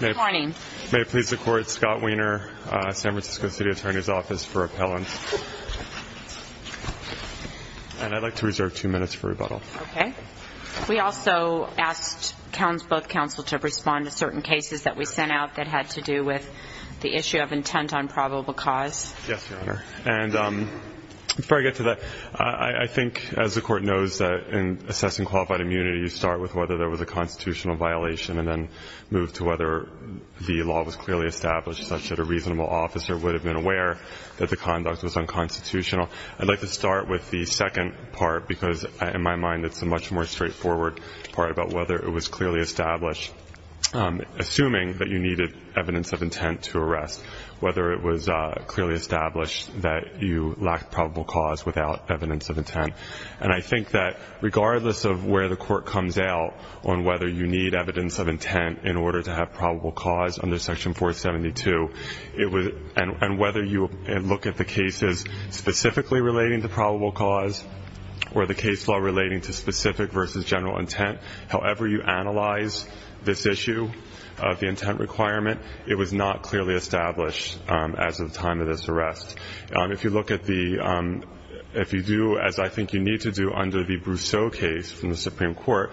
May I please the Court, Scott Wiener, San Francisco City Attorney's Office for Appellant. And I'd like to reserve two minutes for rebuttal. Okay. We also asked both counsel to respond to certain cases that we sent out that had to do with the issue of intent on probable cause. Yes, Your Honor. And before I get to that, I think, as the Court knows, that in assessing qualified immunity, you start with whether there was a constitutional violation and then move to whether the law was clearly established such that a reasonable officer would have been aware that the conduct was unconstitutional. I'd like to start with the second part because, in my mind, it's a much more straightforward part about whether it was clearly established, assuming that you needed evidence of intent to arrest, whether it was clearly established that you lacked probable cause without evidence of intent. And I think that regardless of where the Court comes out on whether you need evidence of intent in order to have probable cause under Section 472, and whether you look at the cases specifically relating to probable cause or the case law relating to specific versus general intent, however you analyze this issue of the intent requirement, it was not clearly established as of the time of this arrest. If you look at the – if you do, as I think you need to do under the Brousseau case from the Supreme Court,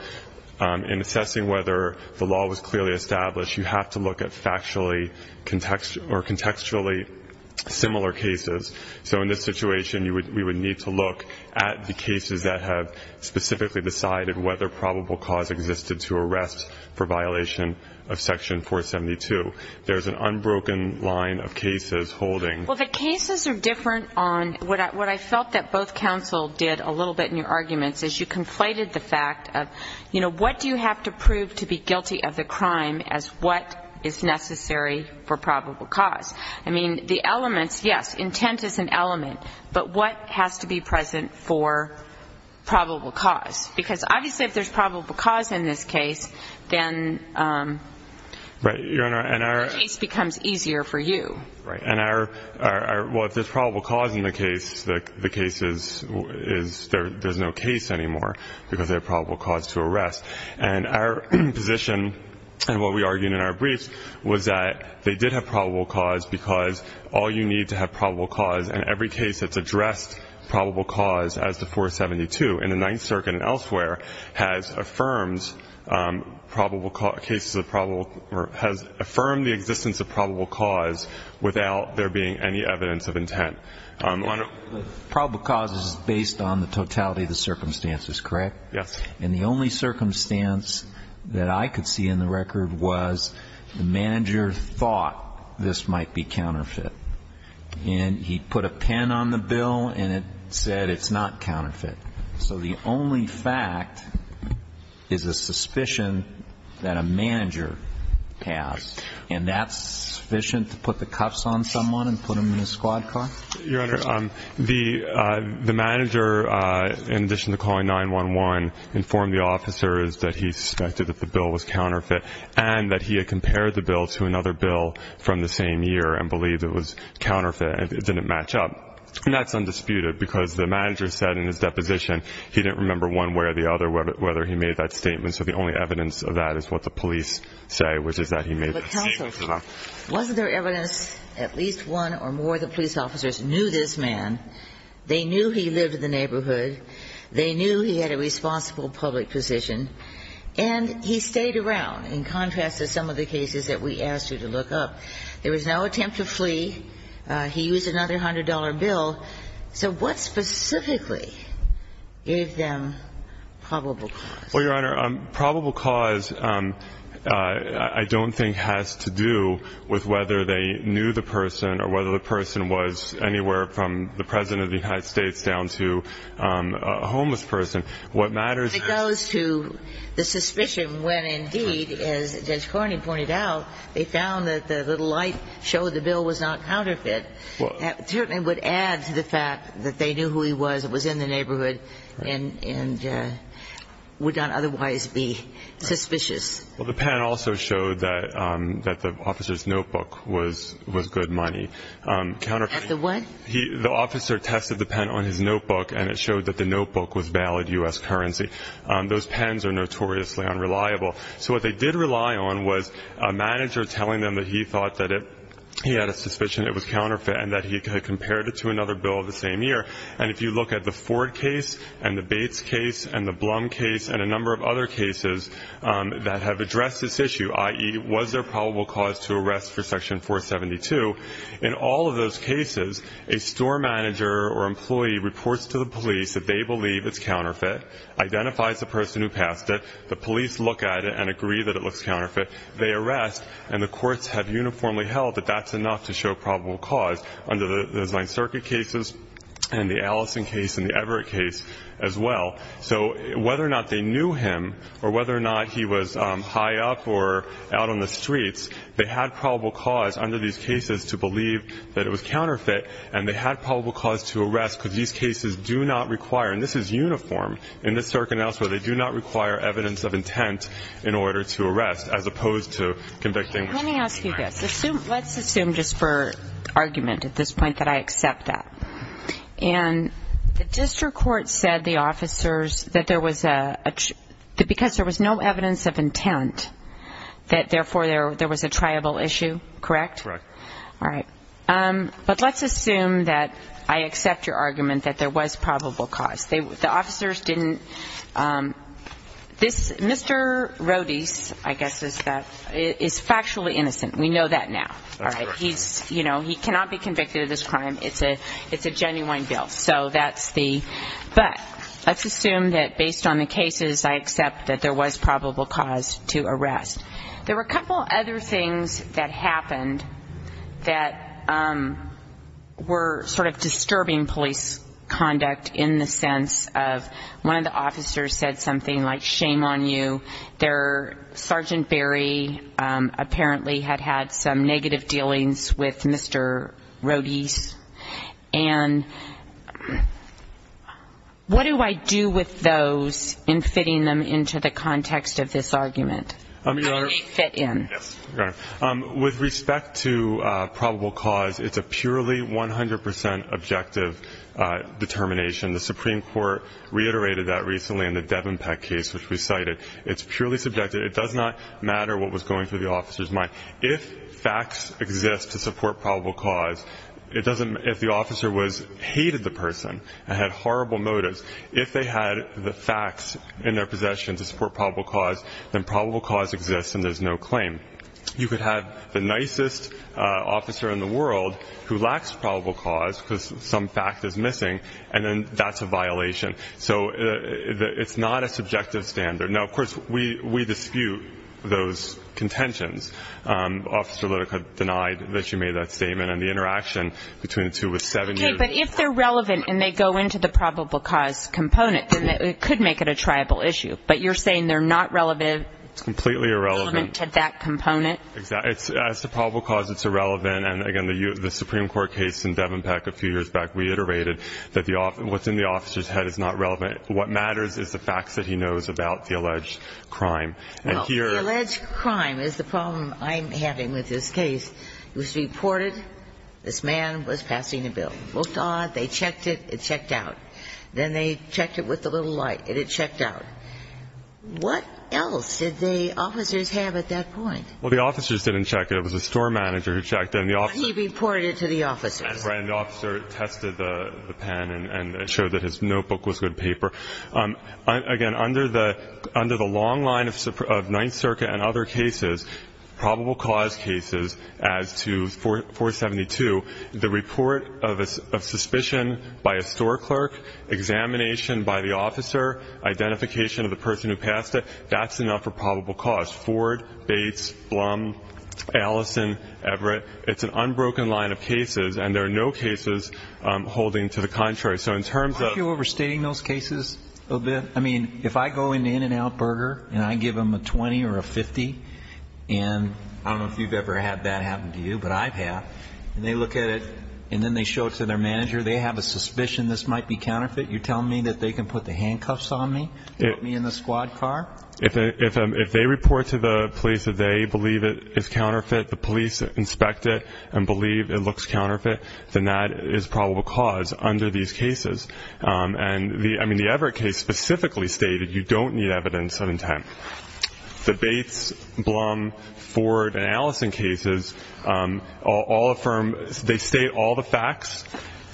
in assessing whether the law was clearly established, you have to look at factually or contextually similar cases. So in this situation, we would need to look at the cases that have specifically decided whether probable cause existed to arrest for violation of Section 472. There's an unbroken line of cases holding – Well, the cases are different on – what I felt that both counsel did a little bit in your arguments is you conflated the fact of, you know, what do you have to prove to be guilty of the crime as what is necessary for probable cause? I mean, the elements, yes, intent is an element, but what has to be present for probable cause? Because obviously if there's probable cause in this case, then the case becomes easier for you. Right. And our – well, if there's probable cause in the case, the case is – there's no case anymore because there's probable cause to arrest. And our position and what we argued in our briefs was that they did have probable cause because all you need to have probable cause in every case that's addressed probable cause as to 472 in the Ninth Circuit and elsewhere has affirmed probable – cases of probable – or has affirmed the existence of probable cause without there being any evidence of intent. Probable cause is based on the totality of the circumstances, correct? Yes. And the only circumstance that I could see in the record was the manager thought this might be counterfeit. And he put a pin on the bill and it said it's not counterfeit. So the only fact is a suspicion that a manager has. And that's sufficient to put the cuffs on someone and put them in a squad car? Your Honor, the manager, in addition to calling 911, informed the officers that he suspected that the bill was counterfeit and that he had compared the bill to another bill from the same year and believed it was counterfeit and it didn't match up. And that's undisputed because the manager said in his deposition he didn't remember one way or the other whether he made that statement. So the only evidence of that is what the police say, which is that he made that statement. But counsel, wasn't there evidence at least one or more of the police officers knew this man? They knew he lived in the neighborhood. They knew he had a responsible public position. And he stayed around in contrast to some of the cases that we asked you to look up. There was no attempt to flee. He used another $100 bill. So what specifically gave them probable cause? Well, Your Honor, probable cause I don't think has to do with whether they knew the person or whether the person was anywhere from the President of the United States down to a homeless person. What matters is the suspicion when, indeed, as Judge Carney pointed out, they found that the little light showed the bill was not counterfeit. That certainly would add to the fact that they knew who he was, was in the neighborhood, and would not otherwise be suspicious. Well, the pen also showed that the officer's notebook was good money. At the what? The officer tested the pen on his notebook, and it showed that the notebook was valid U.S. currency. Those pens are notoriously unreliable. So what they did rely on was a manager telling them that he thought that he had a suspicion it was counterfeit and that he had compared it to another bill of the same year. And if you look at the Ford case and the Bates case and the Blum case and a number of other cases that have addressed this issue, i.e., was there probable cause to arrest for Section 472, in all of those cases, a store manager or employee reports to the police that they believe it's counterfeit, identifies the person who passed it, the police look at it and agree that it looks counterfeit. They arrest, and the courts have uniformly held that that's enough to show probable cause under the Ninth Circuit cases and the Allison case and the Everett case as well. So whether or not they knew him or whether or not he was high up or out on the streets, they had probable cause under these cases to believe that it was counterfeit, and they had probable cause to arrest because these cases do not require and this is uniform in the circumstances where they do not require evidence of intent in order to arrest as opposed to convicting. Let me ask you this. Let's assume just for argument at this point that I accept that. And the district court said the officers that there was a, because there was no evidence of intent that therefore there was a triable issue, correct? Correct. All right. But let's assume that I accept your argument that there was probable cause. The officers didn't. This Mr. Rodis, I guess is that, is factually innocent. We know that now. All right. He's, you know, he cannot be convicted of this crime. It's a genuine bill, so that's the. But let's assume that based on the cases I accept that there was probable cause to arrest. There were a couple other things that happened that were sort of disturbing police conduct in the sense of one of the officers said something like, shame on you. Their Sergeant Barry apparently had had some negative dealings with Mr. Rodis. And what do I do with those in fitting them into the context of this argument? Your Honor, with respect to probable cause, it's a purely 100% objective determination. The Supreme Court reiterated that recently in the Devon case, which we cited. It's purely subjective. It does not matter what was going through the officer's mind. If facts exist to support probable cause, it doesn't. If the officer was hated, the person had horrible motives. If they had the facts in their possession to support probable cause, then probable cause exists and there's no claim. You could have the nicest officer in the world who lacks probable cause because some fact is missing, and then that's a violation. So it's not a subjective standard. Now, of course, we dispute those contentions. Officer Lytica denied that she made that statement, and the interaction between the two was seven years. Okay, but if they're relevant and they go into the probable cause component, then it could make it a tribal issue. But you're saying they're not relevant? It's completely irrelevant. Relevant to that component? As to probable cause, it's irrelevant. And, again, the Supreme Court case in Devon Peck a few years back reiterated that what's in the officer's head is not relevant. What matters is the facts that he knows about the alleged crime. Well, the alleged crime is the problem I'm having with this case. It was reported this man was passing a bill. Looked on. They checked it. It checked out. Then they checked it with the little light. It had checked out. What else did the officers have at that point? Well, the officers didn't check it. It was the store manager who checked it. He reported it to the officers. And the officer tested the pen and showed that his notebook was good paper. Again, under the long line of Ninth Circuit and other cases, probable cause cases, as to 472, the report of suspicion by a store clerk, examination by the officer, identification of the person who passed it, that's enough for probable cause. Ford, Bates, Blum, Allison, Everett, it's an unbroken line of cases. And there are no cases holding to the contrary. Aren't you overstating those cases a little bit? I mean, if I go into In-N-Out Burger and I give them a 20 or a 50, and I don't know if you've ever had that happen to you, but I've had, and they look at it and then they show it to their manager, they have a suspicion this might be counterfeit. You're telling me that they can put the handcuffs on me and put me in the squad car? If they report to the police that they believe it is counterfeit, the police inspect it and believe it looks counterfeit, then that is probable cause under these cases. And the Everett case specifically stated you don't need evidence of intent. The Bates, Blum, Ford, and Allison cases all affirm, they state all the facts,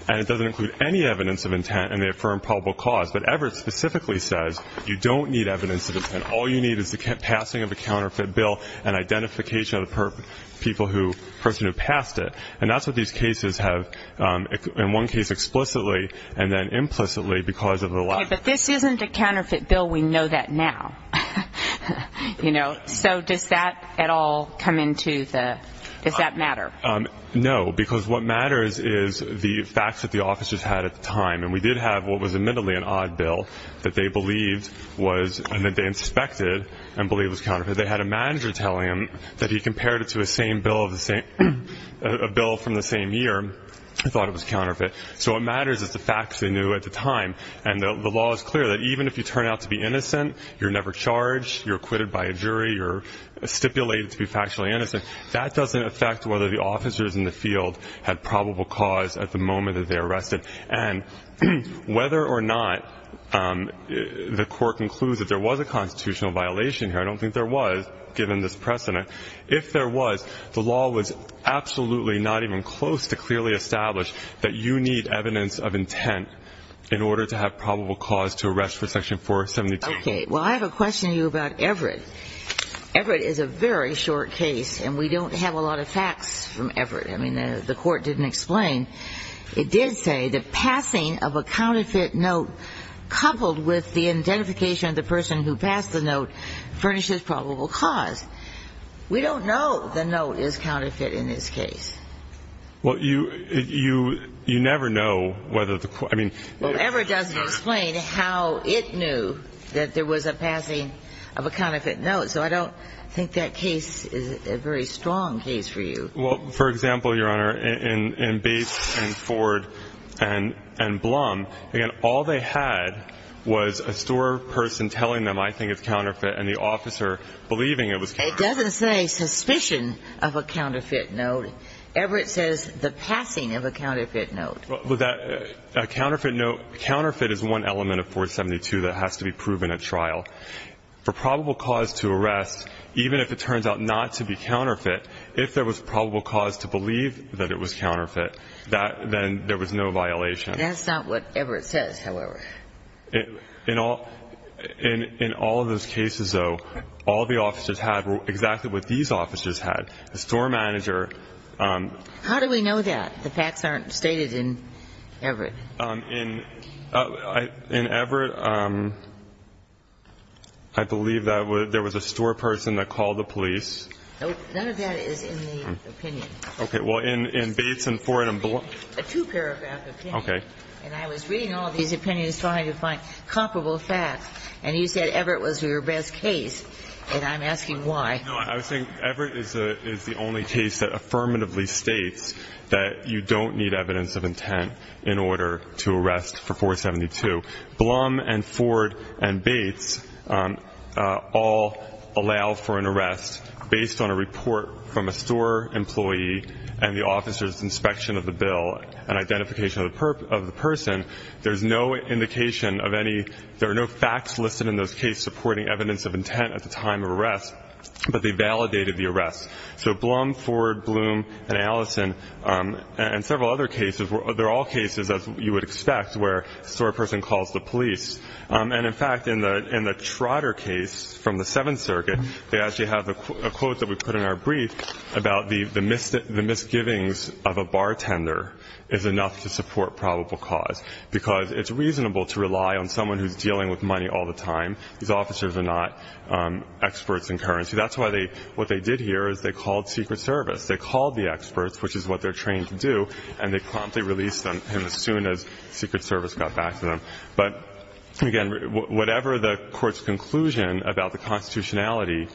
and it doesn't include any evidence of intent, and they affirm probable cause. But Everett specifically says you don't need evidence of intent. All you need is the passing of a counterfeit bill and identification of the person who passed it. And that's what these cases have in one case explicitly and then implicitly because of the law. Okay, but this isn't a counterfeit bill. We know that now. So does that at all come into the, does that matter? No, because what matters is the facts that the officers had at the time, and we did have what was admittedly an odd bill that they believed was, and that they inspected and believed was counterfeit. They had a manager tell him that he compared it to a bill from the same year, thought it was counterfeit. So what matters is the facts they knew at the time, and the law is clear that even if you turn out to be innocent, you're never charged, you're acquitted by a jury, you're stipulated to be factually innocent, that doesn't affect whether the officers in the field had probable cause at the moment that they arrested. And whether or not the court concludes that there was a constitutional violation here, I don't think there was, given this precedent. If there was, the law was absolutely not even close to clearly establish that you need evidence of intent in order to have probable cause to arrest for Section 472. Okay. Well, I have a question to you about Everett. Everett is a very short case, and we don't have a lot of facts from Everett. I mean, the court didn't explain. It did say the passing of a counterfeit note coupled with the identification of the person who passed the note furnishes probable cause. We don't know the note is counterfeit in this case. Well, you never know whether the court, I mean. Well, Everett doesn't explain how it knew that there was a passing of a counterfeit note, so I don't think that case is a very strong case for you. Well, for example, Your Honor, in Bates and Ford and Blum, again, all they had was a store person telling them, I think it's counterfeit, and the officer believing it was counterfeit. It doesn't say suspicion of a counterfeit note. Everett says the passing of a counterfeit note. Well, that counterfeit note, counterfeit is one element of 472 that has to be proven at trial. For probable cause to arrest, even if it turns out not to be counterfeit, if there was probable cause to believe that it was counterfeit, then there was no violation. That's not what Everett says, however. In all of those cases, though, all the officers had were exactly what these officers had, the store manager. How do we know that? The facts aren't stated in Everett. In Everett, I believe that there was a store person that called the police. No. None of that is in the opinion. Okay. Well, in Bates and Ford and Blum. I had a two-paragraph opinion. Okay. And I was reading all these opinions trying to find comparable facts, and you said Everett was your best case, and I'm asking why. No, I was saying Everett is the only case that affirmatively states that you don't need evidence of intent in order to arrest for 472. Blum and Ford and Bates all allow for an arrest based on a report from a store employee and the officer's inspection of the bill and identification of the person. There are no facts listed in those cases supporting evidence of intent at the time of arrest, but they validated the arrest. So Blum, Ford, Blum, and Allison and several other cases, they're all cases, as you would expect, where a store person calls the police. And, in fact, in the Trotter case from the Seventh Circuit, they actually have a quote that we put in our brief about the misgivings of a bartender is enough to support probable cause, because it's reasonable to rely on someone who's dealing with money all the time. These officers are not experts in currency. That's why what they did here is they called Secret Service. They called the experts, which is what they're trained to do, and they promptly released them as soon as Secret Service got back to them. But, again, whatever the court's conclusion about the constitutionality,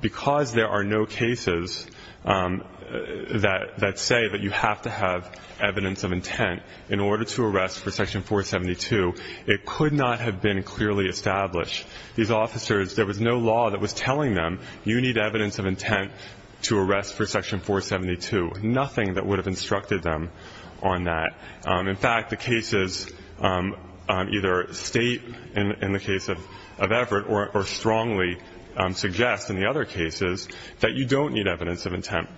because there are no cases that say that you have to have evidence of intent in order to arrest for Section 472, it could not have been clearly established. These officers, there was no law that was telling them you need evidence of intent to arrest for Section 472, nothing that would have instructed them on that. In fact, the cases either state in the case of Everett or strongly suggest in the other cases that you don't need evidence of intent.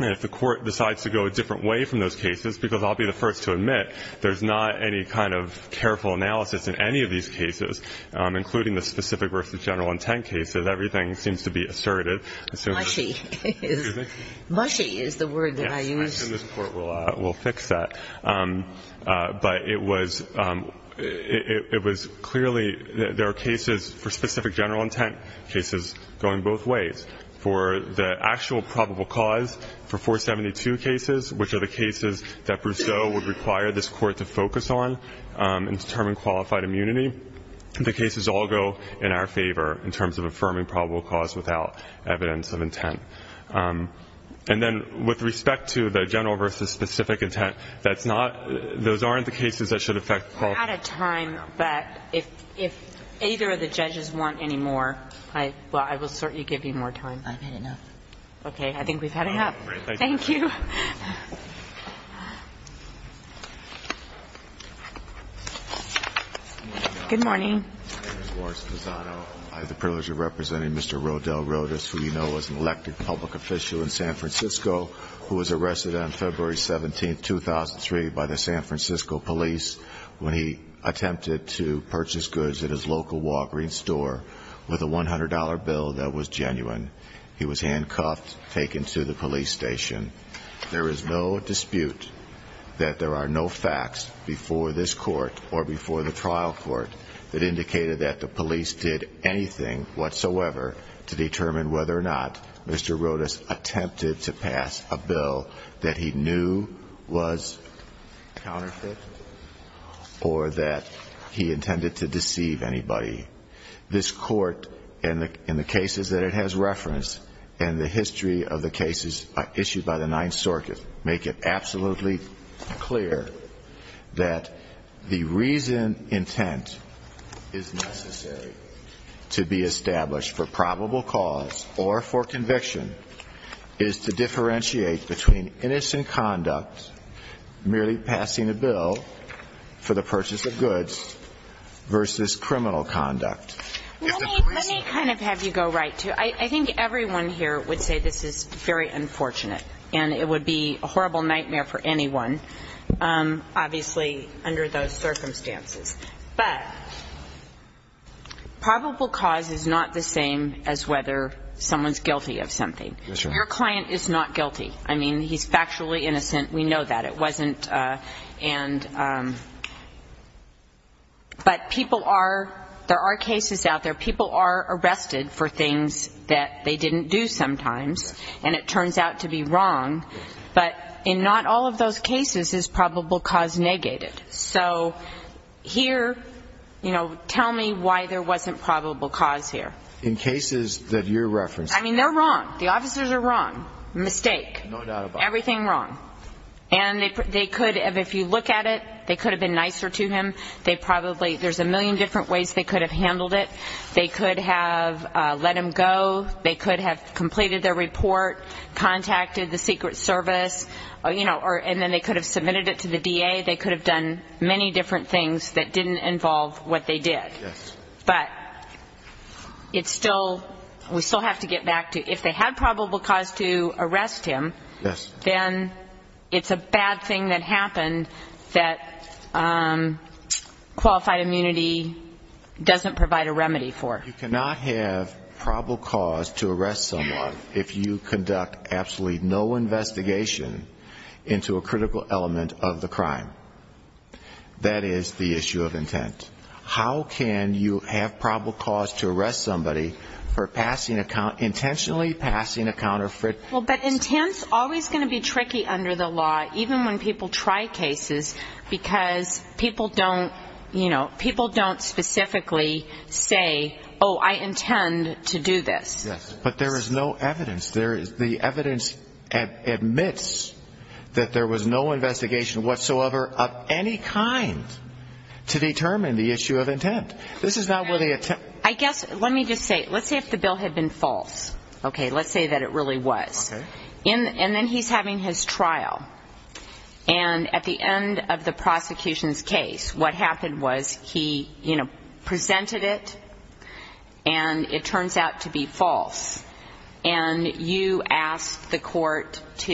And if the Court decides to go a different way from those cases, because I'll be the first to admit, there's not any kind of careful analysis in any of these cases, including the specific versus general intent cases. Everything seems to be assertive. Kagan. Mushi is the word that I use. Yes. I assume this Court will fix that. But it was clearly there are cases for specific general intent, cases going both ways. For the actual probable cause for 472 cases, which are the cases that Brousseau would require this Court to focus on in determining qualified immunity, the cases all go in our favor in terms of affirming probable cause without evidence of intent. And then with respect to the general versus specific intent, that's not, those aren't the cases that should affect the qualifications. We're out of time, but if either of the judges want any more, I will certainly give you more time. I've had enough. Okay. I think we've had enough. Thank you. Good morning. I have the privilege of representing Mr. Rodel Rodas, who you know was an elected public official in San Francisco, who was arrested on February 17, 2003 by the San Francisco police when he attempted to purchase goods at his local Walgreens store with a $100 bill that was genuine. He was handcuffed, taken to the police station. There is no dispute that there are no facts before this Court or before the trial court that indicated that the police did anything whatsoever to determine whether or not Mr. Rodas attempted to pass a bill that he knew was counterfeit or that he intended to deceive anybody. This Court, in the cases that it has referenced, and the history of the cases issued by the Ninth Circuit, make it absolutely clear that the reason intent is necessary to be established for probable cause or for conviction is to differentiate between innocent conduct, merely passing a bill for the purchase of goods, versus criminal conduct. Let me kind of have you go right to it. I think everyone here would say this is very unfortunate, and it would be a horrible nightmare for anyone, obviously, under those circumstances. But probable cause is not the same as whether someone's guilty of something. Your client is not guilty. I mean, he's factually innocent. We know that. It wasn't and – but people are – there are cases out there. People are arrested for things that they didn't do sometimes, and it turns out to be wrong. But in not all of those cases is probable cause negated. So here, you know, tell me why there wasn't probable cause here. In cases that you're referencing. I mean, they're wrong. The officers are wrong. Mistake. No doubt about it. Everything wrong. And they could – if you look at it, they could have been nicer to him. They probably – there's a million different ways they could have handled it. They could have let him go. They could have completed their report, contacted the Secret Service, you know, and then they could have submitted it to the DA. They could have done many different things that didn't involve what they did. Yes. But it's still – we still have to get back to if they had probable cause to arrest him. Yes. Then it's a bad thing that happened that qualified immunity doesn't provide a remedy for. You cannot have probable cause to arrest someone if you conduct absolutely no investigation into a critical element of the crime. That is the issue of intent. How can you have probable cause to arrest somebody for passing a – intentionally passing a counterfeit. Well, but intent's always going to be tricky under the law, even when people try cases, because people don't – you know, people don't specifically say, oh, I intend to do this. Yes. But there is no evidence. There is – the evidence admits that there was no investigation whatsoever of any kind to determine the issue of intent. This is not where the – I guess – let me just say – let's say if the bill had been false. Okay, let's say that it really was. Okay. And then he's having his trial. And at the end of the prosecution's case, what happened was he, you know, presented it, and it turns out to be false. And you asked the court to,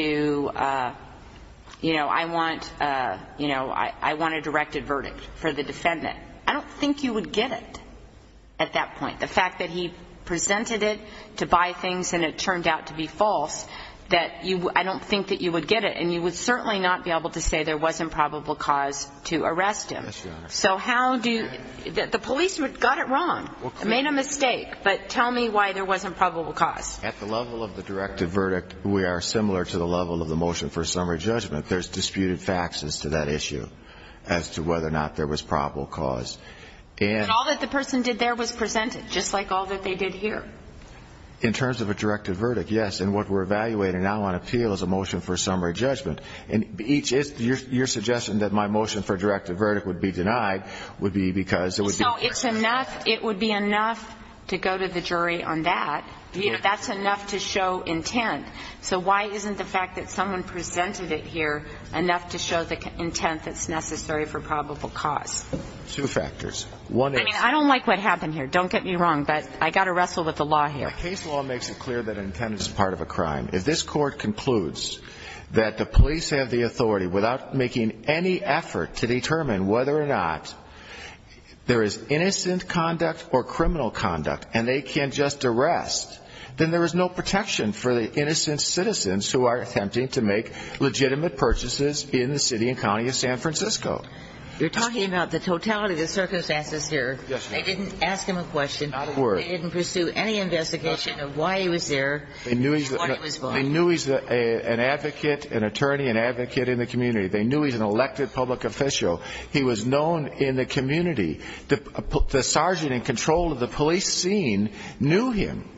you know, I want – you know, I want a directed verdict for the defendant. I don't think you would get it at that point. The fact that he presented it to buy things and it turned out to be false, I don't think that you would get it. And you would certainly not be able to say there wasn't probable cause to arrest him. Yes, Your Honor. So how do – the police got it wrong, made a mistake. But tell me why there wasn't probable cause. At the level of the directed verdict, we are similar to the level of the motion for summary judgment. There's disputed facts as to that issue, as to whether or not there was probable cause. And all that the person did there was presented, just like all that they did here. In terms of a directed verdict, yes. And what we're evaluating now on appeal is a motion for summary judgment. And each – your suggestion that my motion for a directed verdict would be denied would be because it would be – So it's enough – it would be enough to go to the jury on that. That's enough to show intent. So why isn't the fact that someone presented it here enough to show the intent that's necessary for probable cause? Two factors. One is – I mean, I don't like what happened here. Don't get me wrong, but I've got to wrestle with the law here. Case law makes it clear that intent is part of a crime. If this Court concludes that the police have the authority, without making any effort to determine whether or not there is innocent conduct or criminal conduct, and they can just arrest, then there is no protection for the innocent citizens who are attempting to make legitimate purchases in the city and county of San Francisco. You're talking about the totality of the circumstances here. Yes, ma'am. I didn't ask him a question. Not a word. They didn't pursue any investigation of why he was there and what he was buying. They knew he's an advocate, an attorney, an advocate in the community. They knew he's an elected public official. He was known in the community. The sergeant in control of the police scene knew him.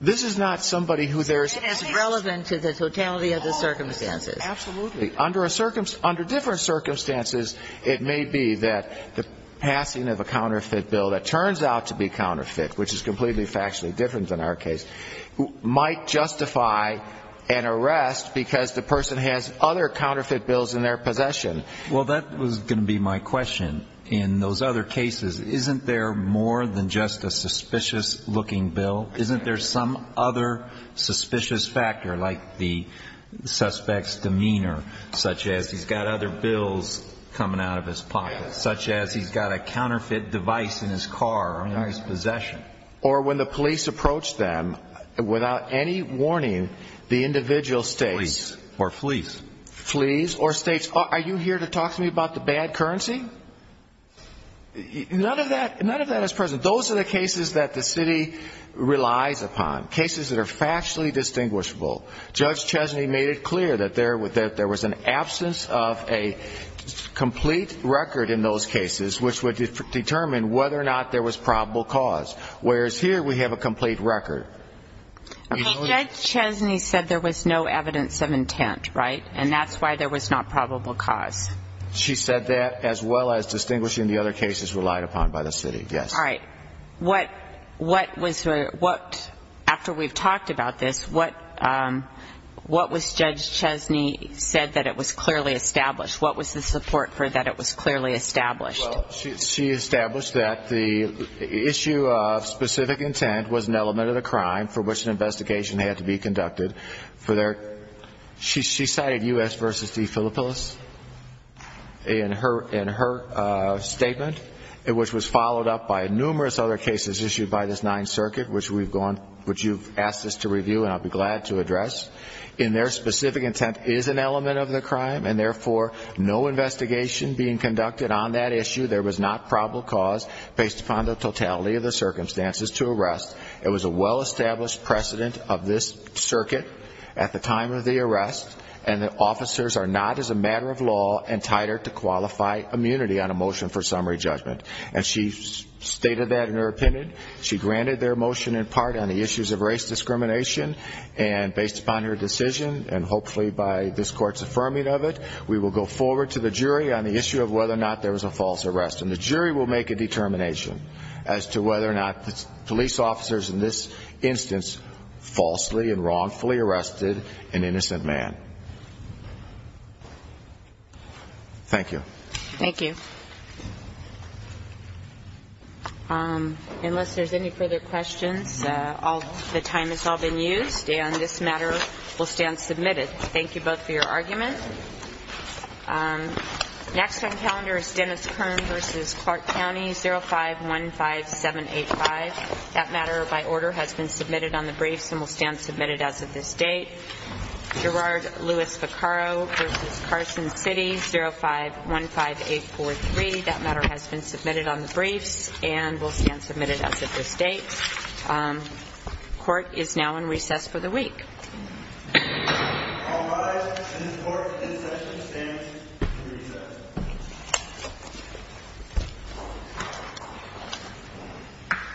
This is not somebody who there's – It isn't as relevant to the totality of the circumstances. Absolutely. Under different circumstances, it may be that the passing of a counterfeit bill that turns out to be counterfeit, which is completely factually different than our case, might justify an arrest because the person has other counterfeit bills in their possession. Well, that was going to be my question. In those other cases, isn't there more than just a suspicious-looking bill? Isn't there some other suspicious factor, like the suspect's demeanor, such as he's got other bills coming out of his pocket, such as he's got a counterfeit device in his car or in his possession? Or when the police approach them, without any warning, the individual states – Flees or flees. Flees or states, are you here to talk to me about the bad currency? None of that is present. Those are the cases that the city relies upon, cases that are factually distinguishable. Judge Chesney made it clear that there was an absence of a complete record in those cases which would determine whether or not there was probable cause, whereas here we have a complete record. Okay, Judge Chesney said there was no evidence of intent, right? And that's why there was not probable cause. She said that as well as distinguishing the other cases relied upon by the city, yes. All right. What was – after we've talked about this, what was Judge Chesney said that it was clearly established? What was the support for that it was clearly established? Well, she established that the issue of specific intent was an element of the crime for which an investigation had to be conducted for their – She cited U.S. v. DeFillipolis in her statement, which was followed up by numerous other cases issued by this Ninth Circuit, which we've gone – which you've asked us to review and I'll be glad to address. And their specific intent is an element of the crime, and therefore no investigation being conducted on that issue. There was not probable cause based upon the totality of the circumstances to arrest. It was a well-established precedent of this circuit at the time of the arrest, and the officers are not as a matter of law entitled to qualify immunity on a motion for summary judgment. And she stated that in her opinion. She granted their motion in part on the issues of race discrimination, and based upon her decision and hopefully by this Court's affirming of it, we will go forward to the jury on the issue of whether or not there was a false arrest. And the jury will make a determination as to whether or not police officers in this instance falsely and wrongfully arrested an innocent man. Thank you. Thank you. Unless there's any further questions, the time has all been used, and this matter will stand submitted. Thank you both for your argument. Next on the calendar is Dennis Kern v. Clark County, 0515785. That matter, by order, has been submitted on the briefs and will stand submitted as of this date. Gerard Louis Vaccaro v. Carson City, 0515843. That matter has been submitted on the briefs and will stand submitted as of this date. Court is now in recess for the week. All rise. This Court in session stands recessed.